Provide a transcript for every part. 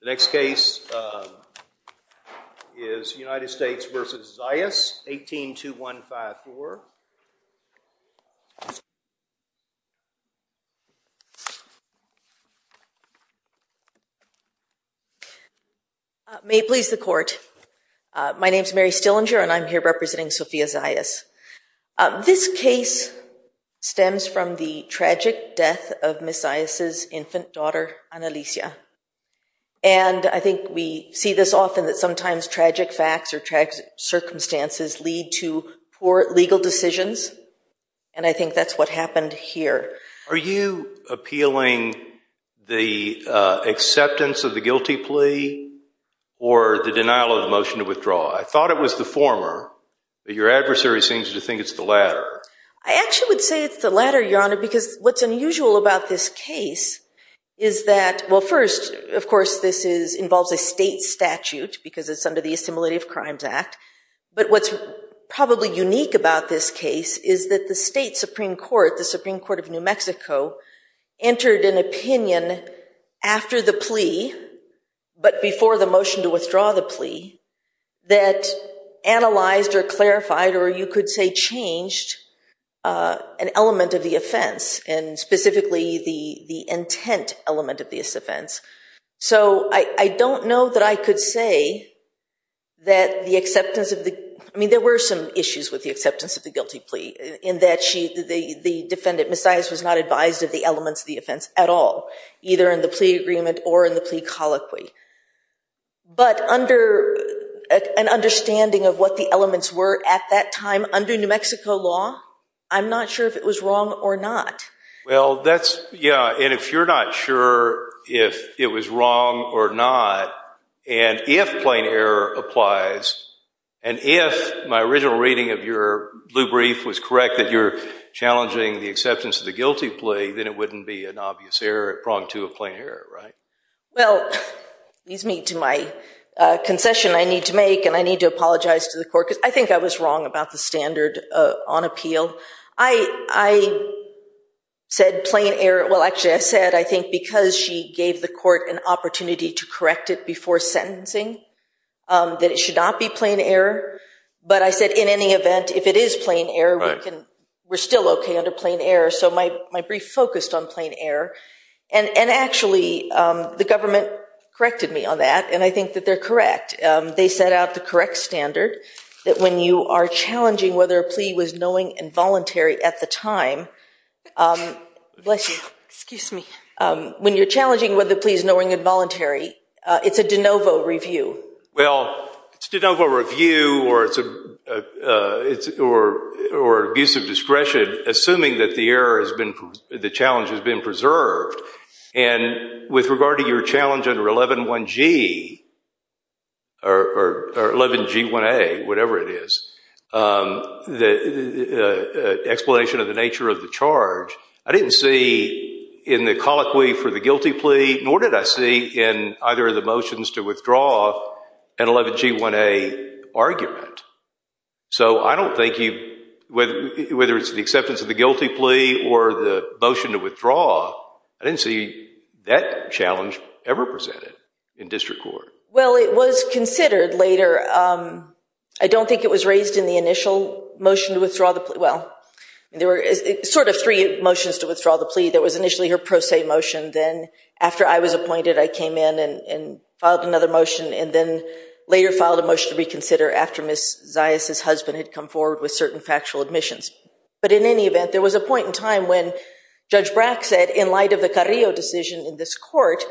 The next case is United States v. Zayas, 182154. May it please the court. My name is Mary Stillinger and I'm here representing Sophia Zayas. This case stems from the tragic death of Ms. Zayas' infant daughter, Annalisa. And I think we see this often that sometimes tragic facts or tragic circumstances lead to poor legal decisions. And I think that's what happened here. Are you appealing the acceptance of the guilty plea or the denial of the motion to withdraw? I thought it was the former, but your adversary seems to think it's the latter. I actually would say it's the latter, Your Honor, because what's unusual about this case is that, well, first, of course, this involves a state statute because it's under the Assimilative Crimes Act. But what's probably unique about this case is that the state Supreme Court, the Supreme Court of New Mexico, entered an opinion after the plea, but before the motion to withdraw the plea, that analyzed or clarified or you could say changed an element of the offense and specifically the intent element of this offense. So I don't know that I could say that the acceptance of the, I mean, there were some issues with the acceptance of the guilty plea in that the defendant, Ms. Zayas, was not advised of the elements of the offense at all, either in the plea agreement or in the plea colloquy. But under an understanding of what the elements were at that time under New Mexico law, I'm not sure if it was wrong or not. Well, that's, yeah, and if you're not sure if it was wrong or not and if plain error applies and if my original reading of your blue brief was correct that you're challenging the acceptance of the guilty plea, then it wouldn't be an obvious error at prong two of plain error, right? Well, leads me to my concession I need to make and I need to apologize to the court because I think I was wrong about the standard on appeal. I said plain error, well, actually I said I think because she gave the court an opportunity to correct it before sentencing that it should not be plain error. But I said in any event, if it is plain error, we're still okay under plain error. So my brief focused on plain error. And actually the government corrected me on that, and I think that they're correct. They set out the correct standard that when you are challenging whether a plea was knowing and voluntary at the time, Bless you. Excuse me. When you're challenging whether a plea is knowing and voluntary, it's a de novo review. Well, it's a de novo review or abuse of discretion, assuming that the challenge has been preserved. And with regard to your challenge under 111G or 11G1A, whatever it is, the explanation of the nature of the charge, I didn't see in the colloquy for the guilty plea, nor did I see in either of the motions to withdraw, an 11G1A argument. So I don't think you, whether it's the acceptance of the guilty plea or the motion to withdraw, I didn't see that challenge ever presented in district court. Well, it was considered later. I don't think it was raised in the initial motion to withdraw the plea. Well, there were sort of three motions to withdraw the plea. There was initially her pro se motion. Then after I was appointed, I came in and filed another motion, and then later filed a motion to reconsider after Ms. Zias' husband had come forward with certain factual admissions. But in any event, there was a point in time when Judge Brack said, in light of the Carrillo decision in this court,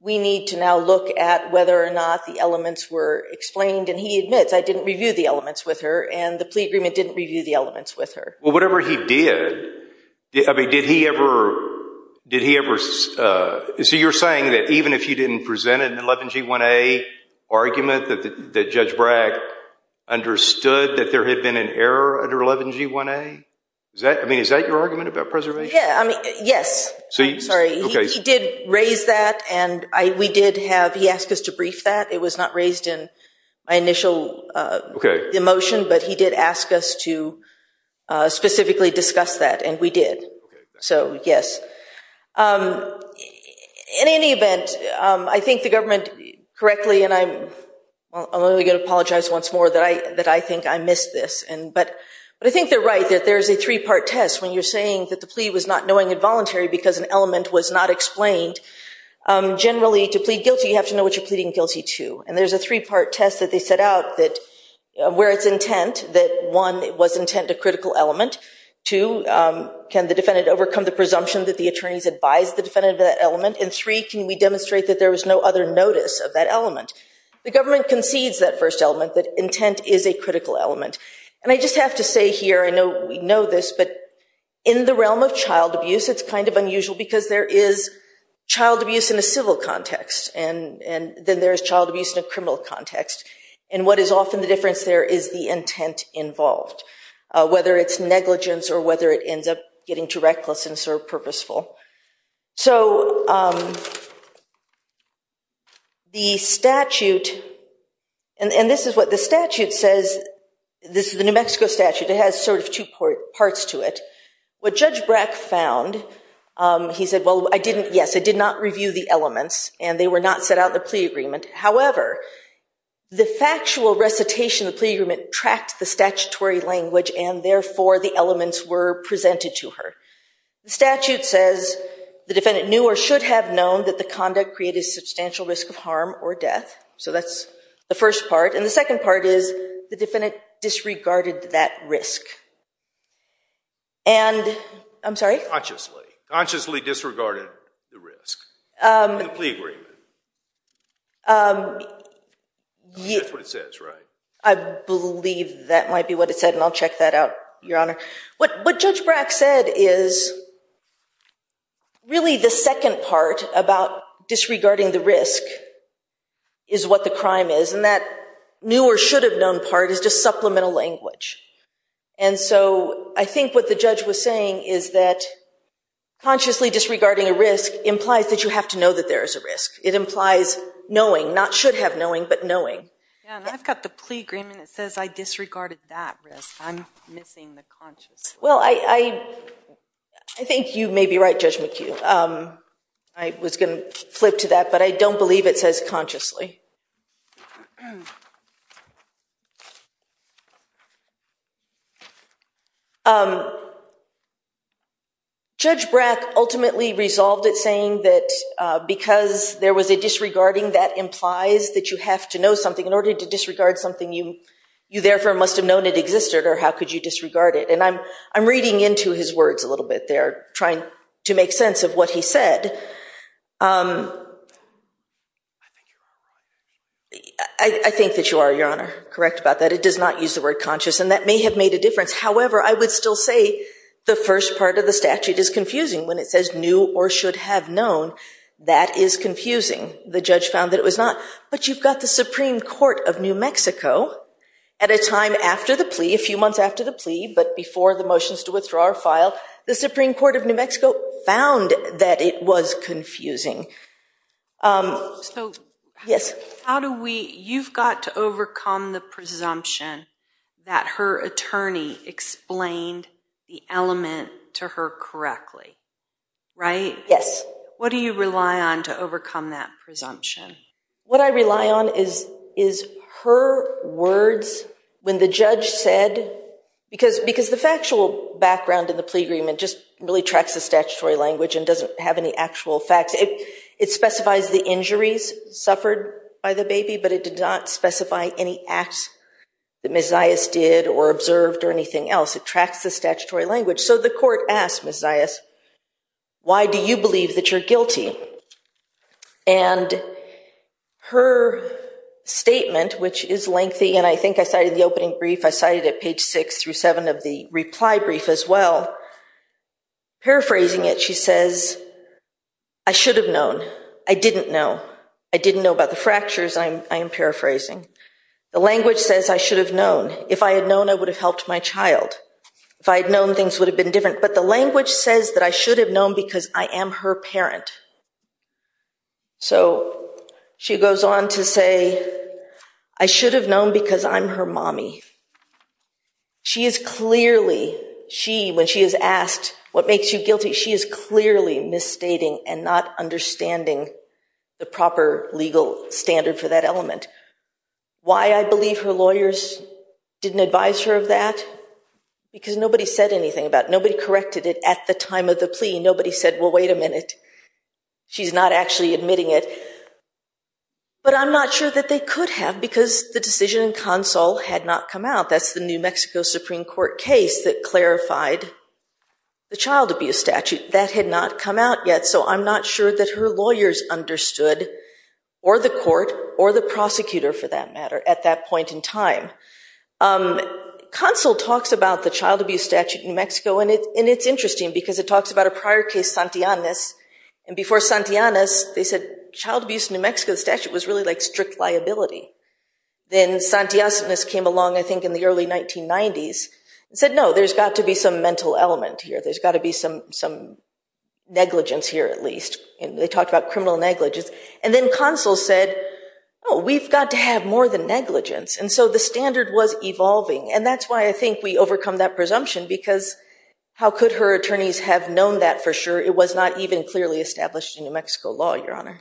we need to now look at whether or not the elements were explained. And he admits, I didn't review the elements with her, and the plea agreement didn't review the elements with her. Well, whatever he did, I mean, did he ever – so you're saying that even if he didn't present an 11G1A argument, that Judge Brack understood that there had been an error under 11G1A? I mean, is that your argument about preservation? Yeah, I mean, yes. I'm sorry. He did raise that, and we did have – he asked us to brief that. It was not raised in my initial motion, but he did ask us to specifically discuss that, and we did. So, yes. In any event, I think the government, correctly, and I'm only going to apologize once more that I think I missed this, but I think they're right that there's a three-part test when you're saying that the plea was not knowing and voluntary because an element was not explained. Generally, to plead guilty, you have to know what you're pleading guilty to, and there's a three-part test that they set out where it's intent, that one, it was intent, a critical element. Two, can the defendant overcome the presumption that the attorneys advised the defendant of that element? And three, can we demonstrate that there was no other notice of that element? The government concedes that first element, that intent is a critical element. And I just have to say here, I know we know this, but in the realm of child abuse, it's kind of unusual because there is child abuse in a civil context, and then there is child abuse in a criminal context. And what is often the difference there is the intent involved, whether it's negligence or whether it ends up getting too reckless and sort of purposeful. So the statute, and this is what the statute says. This is the New Mexico statute. It has sort of two parts to it. What Judge Brack found, he said, well, I didn't, yes, I did not review the elements, and they were not set out in the plea agreement. However, the factual recitation of the plea agreement tracked the statutory language, and therefore, the elements were presented to her. The statute says the defendant knew or should have known that the conduct created a substantial risk of harm or death. So that's the first part. And the second part is the defendant disregarded that risk. And I'm sorry? Consciously. Consciously disregarded the risk in the plea agreement. That's what it says, right? I believe that might be what it said, and I'll check that out, Your Honor. What Judge Brack said is really the second part about disregarding the risk is what the crime is, and that knew or should have known part is just supplemental language. And so I think what the judge was saying is that consciously disregarding a risk implies that you have to know that there is a risk. It implies knowing, not should have knowing, but knowing. Yeah, and I've got the plea agreement that says I disregarded that risk. I'm missing the consciously. Well, I think you may be right, Judge McHugh. I was going to flip to that, but I don't believe it says consciously. Judge Brack ultimately resolved it saying that because there was a disregarding, that implies that you have to know something. You therefore must have known it existed, or how could you disregard it? And I'm reading into his words a little bit there, trying to make sense of what he said. I think that you are, Your Honor, correct about that. It does not use the word conscious, and that may have made a difference. However, I would still say the first part of the statute is confusing. When it says knew or should have known, that is confusing. The judge found that it was not, but you've got the Supreme Court of New Mexico at a time after the plea, a few months after the plea, but before the motions to withdraw are filed. The Supreme Court of New Mexico found that it was confusing. You've got to overcome the presumption that her attorney explained the element to her correctly, right? Yes. What do you rely on to overcome that presumption? What I rely on is her words when the judge said, because the factual background in the plea agreement just really tracks the statutory language and doesn't have any actual facts. It specifies the injuries suffered by the baby, but it did not specify any acts that Ms. Zayas did or observed or anything else. It tracks the statutory language. So the court asked Ms. Zayas, why do you believe that you're guilty? And her statement, which is lengthy, and I think I cited the opening brief. I cited it at page 6 through 7 of the reply brief as well. Paraphrasing it, she says, I should have known. I didn't know. I didn't know about the fractures. I am paraphrasing. The language says I should have known. If I had known, I would have helped my child. If I had known, things would have been different. But the language says that I should have known because I am her parent. So she goes on to say, I should have known because I'm her mommy. She is clearly, when she is asked what makes you guilty, she is clearly misstating and not understanding the proper legal standard for that element. Why I believe her lawyers didn't advise her of that, because nobody said anything about it. Nobody corrected it at the time of the plea. Nobody said, well, wait a minute. She's not actually admitting it. But I'm not sure that they could have because the decision in consul had not come out. That's the New Mexico Supreme Court case that clarified the child abuse statute. That had not come out yet. So I'm not sure that her lawyers understood, or the court, or the prosecutor for that matter, at that point in time. Consul talks about the child abuse statute in New Mexico. And it's interesting because it talks about a prior case, Santillanes. And before Santillanes, they said child abuse in New Mexico statute was really like strict liability. Then Santillanes came along, I think, in the early 1990s and said, no, there's got to be some mental element here. There's got to be some negligence here, at least. And they talked about criminal negligence. And then consul said, oh, we've got to have more than negligence. And so the standard was evolving. And that's why I think we overcome that presumption. Because how could her attorneys have known that for sure? It was not even clearly established in New Mexico law, Your Honor.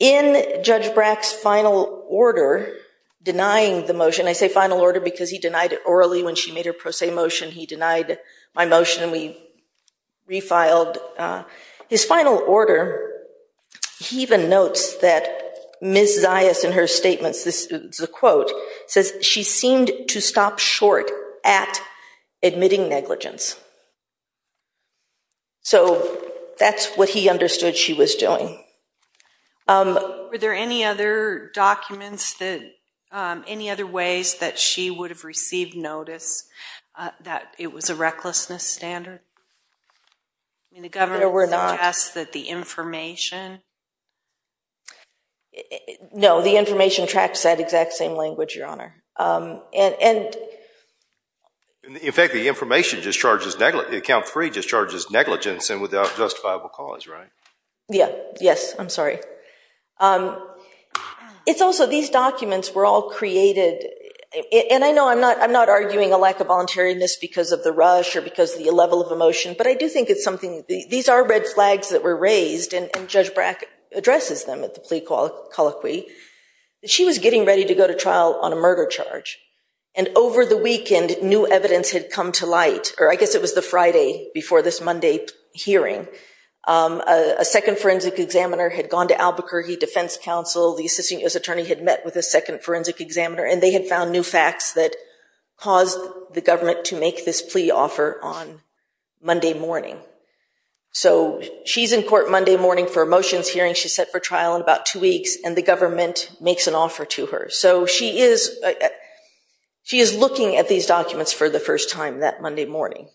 In Judge Brack's final order denying the motion, I say final order because he denied it orally when she made her pro se motion. He denied my motion and we refiled. His final order, he even notes that Ms. Zayas in her statements, this is a quote, says she seemed to stop short at admitting negligence. So that's what he understood she was doing. Were there any other documents that, any other ways that she would have received notice that it was a recklessness standard? No, there were not. I mean, the government suggests that the information... No, the information tracks that exact same language, Your Honor. In fact, the information just charges negligence, the account three just charges negligence and without justifiable cause, right? Yeah, yes, I'm sorry. It's also these documents were all created, and I know I'm not arguing a lack of voluntariness because of the rush or because of the level of emotion, but I do think it's something... These are red flags that were raised and Judge Brack addresses them at the plea colloquy. She was getting ready to go to trial on a murder charge and over the weekend, new evidence had come to light or I guess it was the Friday before this Monday hearing. A second forensic examiner had gone to Albuquerque Defense Council. The Assistant U.S. Attorney had met with a second forensic examiner and they had found new facts that caused the government to make this plea offer on Monday morning. So she's in court Monday morning for a motions hearing. She's set for trial in about two weeks and the government makes an offer to her. So she is looking at these documents for the first time that Monday morning,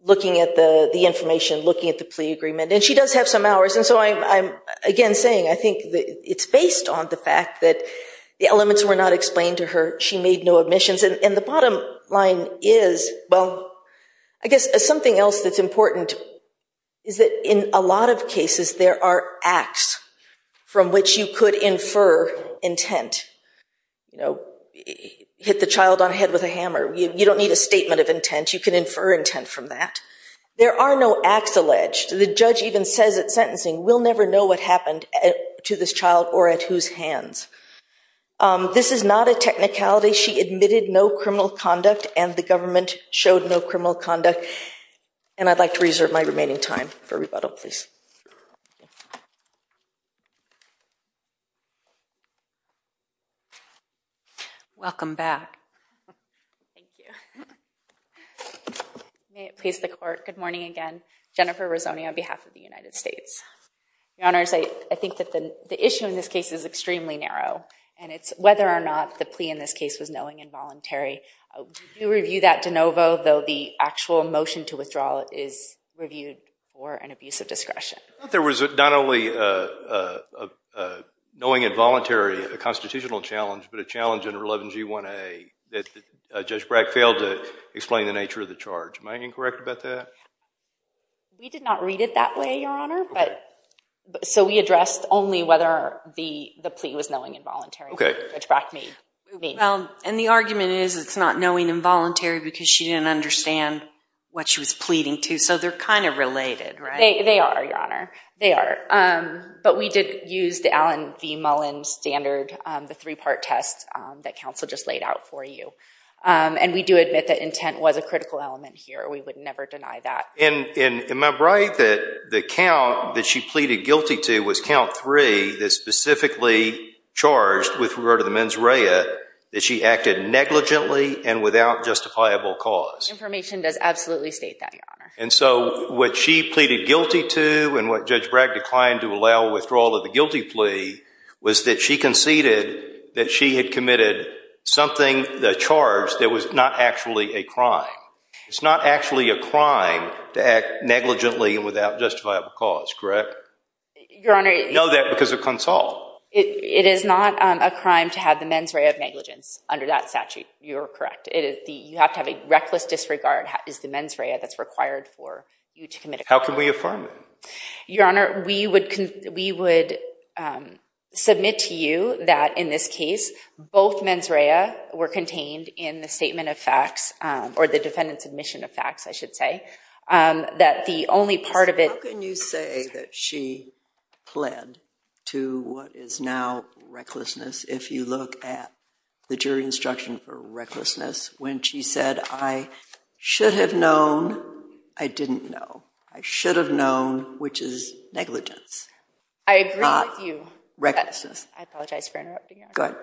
looking at the information, looking at the plea agreement, and she does have some hours. And so I'm again saying I think it's based on the fact that the elements were not explained to her. She made no omissions. And the bottom line is, well, I guess something else that's important is that in a lot of cases, there are acts from which you could infer intent. You know, hit the child on the head with a hammer. You don't need a statement of intent. You can infer intent from that. There are no acts alleged. The judge even says at sentencing, we'll never know what happened to this child or at whose hands. This is not a technicality. She admitted no criminal conduct and the government showed no criminal conduct. And I'd like to reserve my remaining time for rebuttal, please. Thank you. Welcome back. Thank you. May it please the court, good morning again. Jennifer Rizzoni on behalf of the United States. Your Honors, I think that the issue in this case is extremely narrow, and it's whether or not the plea in this case was knowing and voluntary. We do review that de novo, though the actual motion to withdraw is reviewed for an abuse of discretion. There was not only a knowing and voluntary constitutional challenge, but a challenge under 11G1A that Judge Brack failed to explain the nature of the charge. Am I incorrect about that? We did not read it that way, Your Honor. So we addressed only whether the plea was knowing and voluntary, which Brack made. And the argument is it's not knowing and voluntary because she didn't understand what she was pleading to. So they're kind of related, right? They are, Your Honor. They are. But we did use the Allen v. Mullen standard, the three-part test that counsel just laid out for you. And we do admit that intent was a critical element here. We would never deny that. And am I right that the count that she pleaded guilty to was count three that specifically charged with regard to the mens rea that she acted negligently and without justifiable cause? Information does absolutely state that, Your Honor. And so what she pleaded guilty to and what Judge Brack declined to allow withdrawal of the guilty plea was that she conceded that she had committed something, the charge that was not actually a crime. It's not actually a crime to act negligently and without justifiable cause, correct? Your Honor, it is. No, that because of consult. It is not a crime to have the mens rea of negligence under that statute. You are correct. You have to have a reckless disregard is the mens rea that's required for you to commit a crime. How can we affirm it? Your Honor, we would submit to you that in this case both mens rea were contained in the statement of facts or the defendant's admission of facts, I should say, that the only part of it... How can you say that she pled to what is now recklessness if you look at the jury instruction for recklessness when she said, I should have known, I didn't know. I should have known, which is negligence. I agree with you. Recklessness. I apologize for interrupting, Your Honor. Go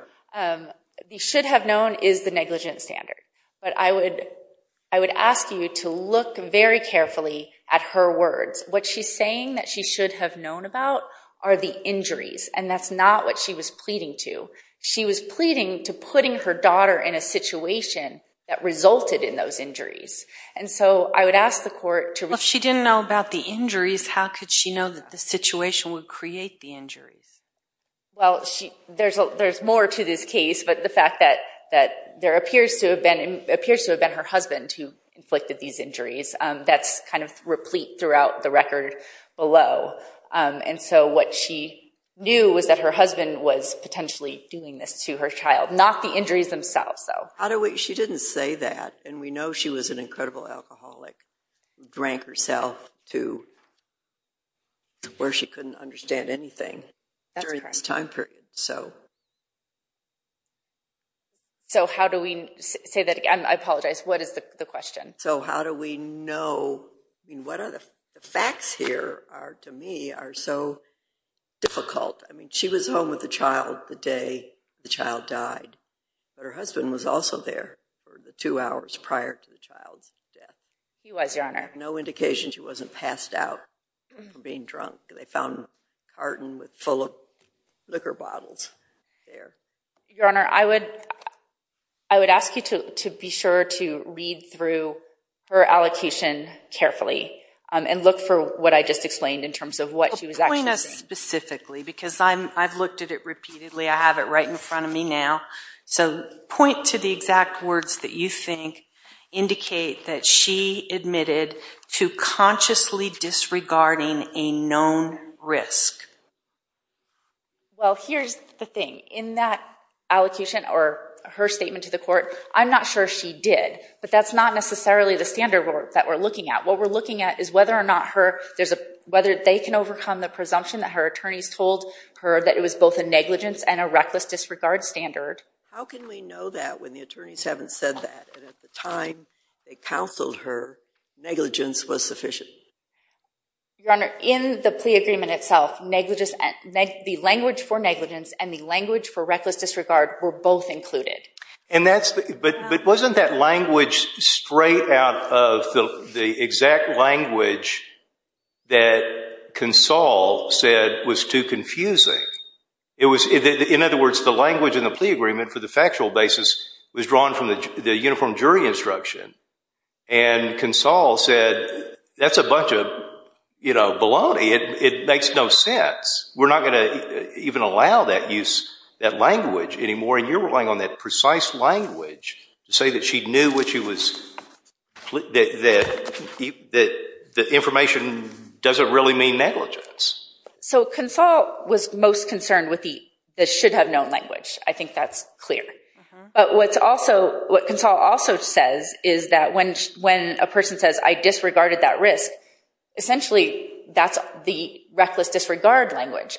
ahead. The should have known is the negligence standard. But I would ask you to look very carefully at her words. What she's saying that she should have known about are the injuries, and that's not what she was pleading to. She was pleading to putting her daughter in a situation that resulted in those injuries. And so I would ask the court to... Well, if she didn't know about the injuries, how could she know that the situation would create the injuries? Well, there's more to this case, but the fact that there appears to have been her husband who inflicted these injuries, that's kind of replete throughout the record below. And so what she knew was that her husband was potentially doing this to her child, not the injuries themselves. She didn't say that, and we know she was an incredible alcoholic, drank herself to where she couldn't understand anything during this time period. So... So how do we... Say that again. I apologize. What is the question? So how do we know... The facts here are, to me, are so difficult. I mean, she was home with the child the day the child died, but her husband was also there for the two hours prior to the child's death. He was, Your Honor. No indication she wasn't passed out from being drunk. They found a carton full of liquor bottles there. Your Honor, I would ask you to be sure to read through her allocation carefully and look for what I just explained in terms of what she was actually saying. Point us specifically, because I've looked at it repeatedly. I have it right in front of me now. So point to the exact words that you think indicate that she admitted to consciously disregarding a known risk. Well, here's the thing. In that allocation, or her statement to the court, I'm not sure she did, but that's not necessarily the standard that we're looking at. What we're looking at is whether or not her... Whether they can overcome the presumption that her attorneys told her that it was both a negligence and a reckless disregard standard. How can we know that when the attorneys haven't said that? At the time they counseled her, negligence was sufficient. Your Honor, in the plea agreement itself, the language for negligence and the language for reckless disregard were both included. But wasn't that language straight out of the exact language that Consall said was too confusing? In other words, the language in the plea agreement for the factual basis was drawn from the uniform jury instruction, and Consall said, that's a bunch of baloney. It makes no sense. We're not going to even allow that language anymore, and you're relying on that precise language to say that she knew what she was... that the information doesn't really mean negligence. So Consall was most concerned with the should-have-known language. I think that's clear. But what Consall also says is that when a person says, I disregarded that risk, essentially that's the reckless disregard language.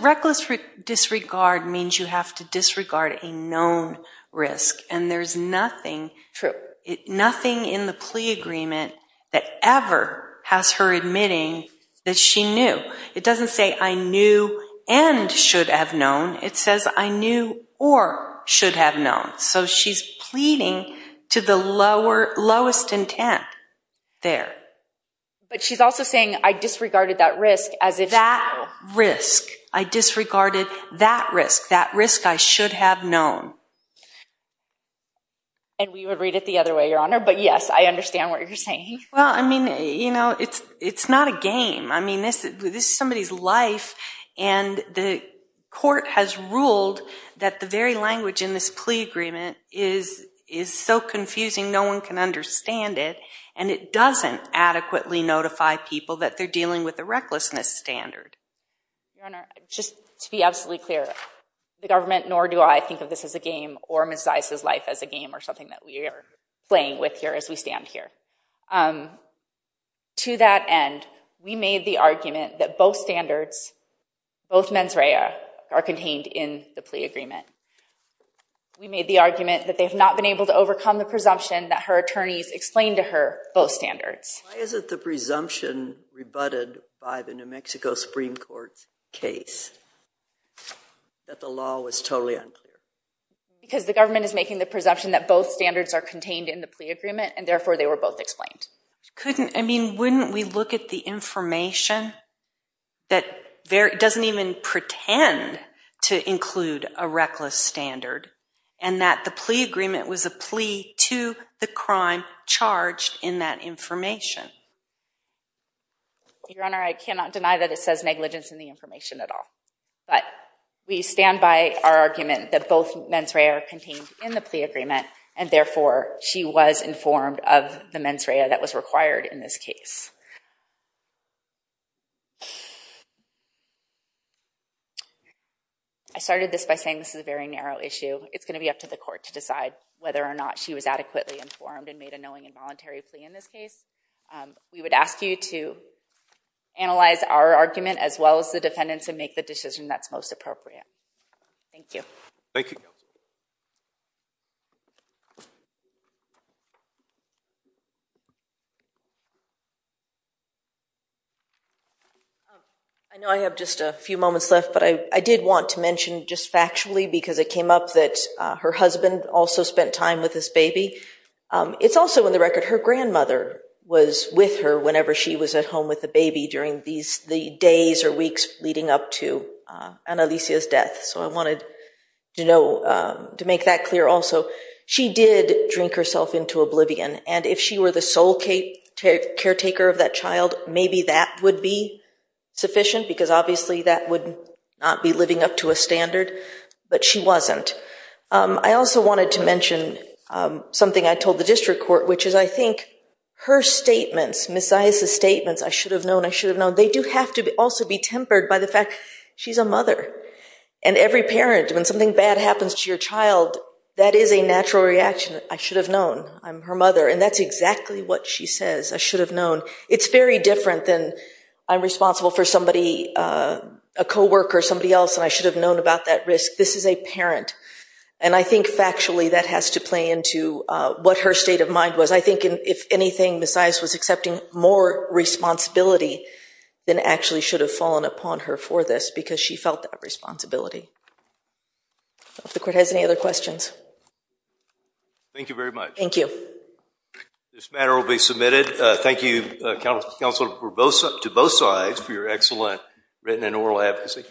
Reckless disregard means you have to disregard a known risk, and there's nothing in the plea agreement that ever has her admitting that she knew. It doesn't say, I knew and should have known. It says, I knew or should have known. So she's pleading to the lowest intent there. But she's also saying, I disregarded that risk as if... That risk. I disregarded that risk. That risk I should have known. And we would read it the other way, Your Honor, but yes, I understand what you're saying. Well, I mean, you know, it's not a game. I mean, this is somebody's life, and the court has ruled that the very language in this plea agreement is so confusing no one can understand it, and it doesn't adequately notify people that they're dealing with a recklessness standard. Your Honor, just to be absolutely clear, the government nor do I think of this as a game or Ms. Zise's life as a game or something that we are playing with here as we stand here. To that end, we made the argument that both standards, both mens rea, are contained in the plea agreement. We made the argument that they have not been able to overcome the presumption that her attorneys explained to her both standards. Why is it the presumption rebutted by the New Mexico Supreme Court's case that the law was totally unclear? Because the government is making the presumption that both standards are contained in the plea agreement, and therefore they were both explained. Couldn't, I mean, wouldn't we look at the information that doesn't even pretend to include a reckless standard and that the plea agreement was a plea to the crime charged in that information? Your Honor, I cannot deny that it says negligence in the information at all, but we stand by our argument that both mens rea are contained in the plea agreement, and therefore she was informed of the mens rea that was required in this case. I started this by saying this is a very narrow issue. It's going to be up to the court to decide whether or not she was adequately informed and made a knowing and voluntary plea in this case. We would ask you to analyze our argument as well as the defendant's and make the decision that's most appropriate. Thank you. Thank you. I know I have just a few moments left, but I did want to mention just factually because it came up that her husband also spent time with this baby. It's also in the record her grandmother was with her whenever she was at home with the baby during the days or weeks leading up to Annalisa's death. So I wanted to make that clear also. She did drink herself into oblivion, and if she were the sole caretaker of that child, maybe that would be sufficient because obviously that would not be living up to a standard, but she wasn't. I also wanted to mention something I told the district court, which is I think her statements, Ms. Zias' statements, I should have known, I should have known, they do have to also be tempered by the fact she's a mother. And every parent, when something bad happens to your child, that is a natural reaction. I should have known. I'm her mother, and that's exactly what she says. I should have known. It's very different than I'm responsible for somebody, a co-worker, somebody else, and I should have known about that risk. This is a parent, and I think factually that has to play into what her state of mind was. I think if anything, Ms. Zias was accepting more responsibility than actually should have fallen upon her for this because she felt that responsibility. I don't know if the court has any other questions. Thank you very much. Thank you. This matter will be submitted. Thank you, counsel, to both sides for your excellent written and oral advocacy.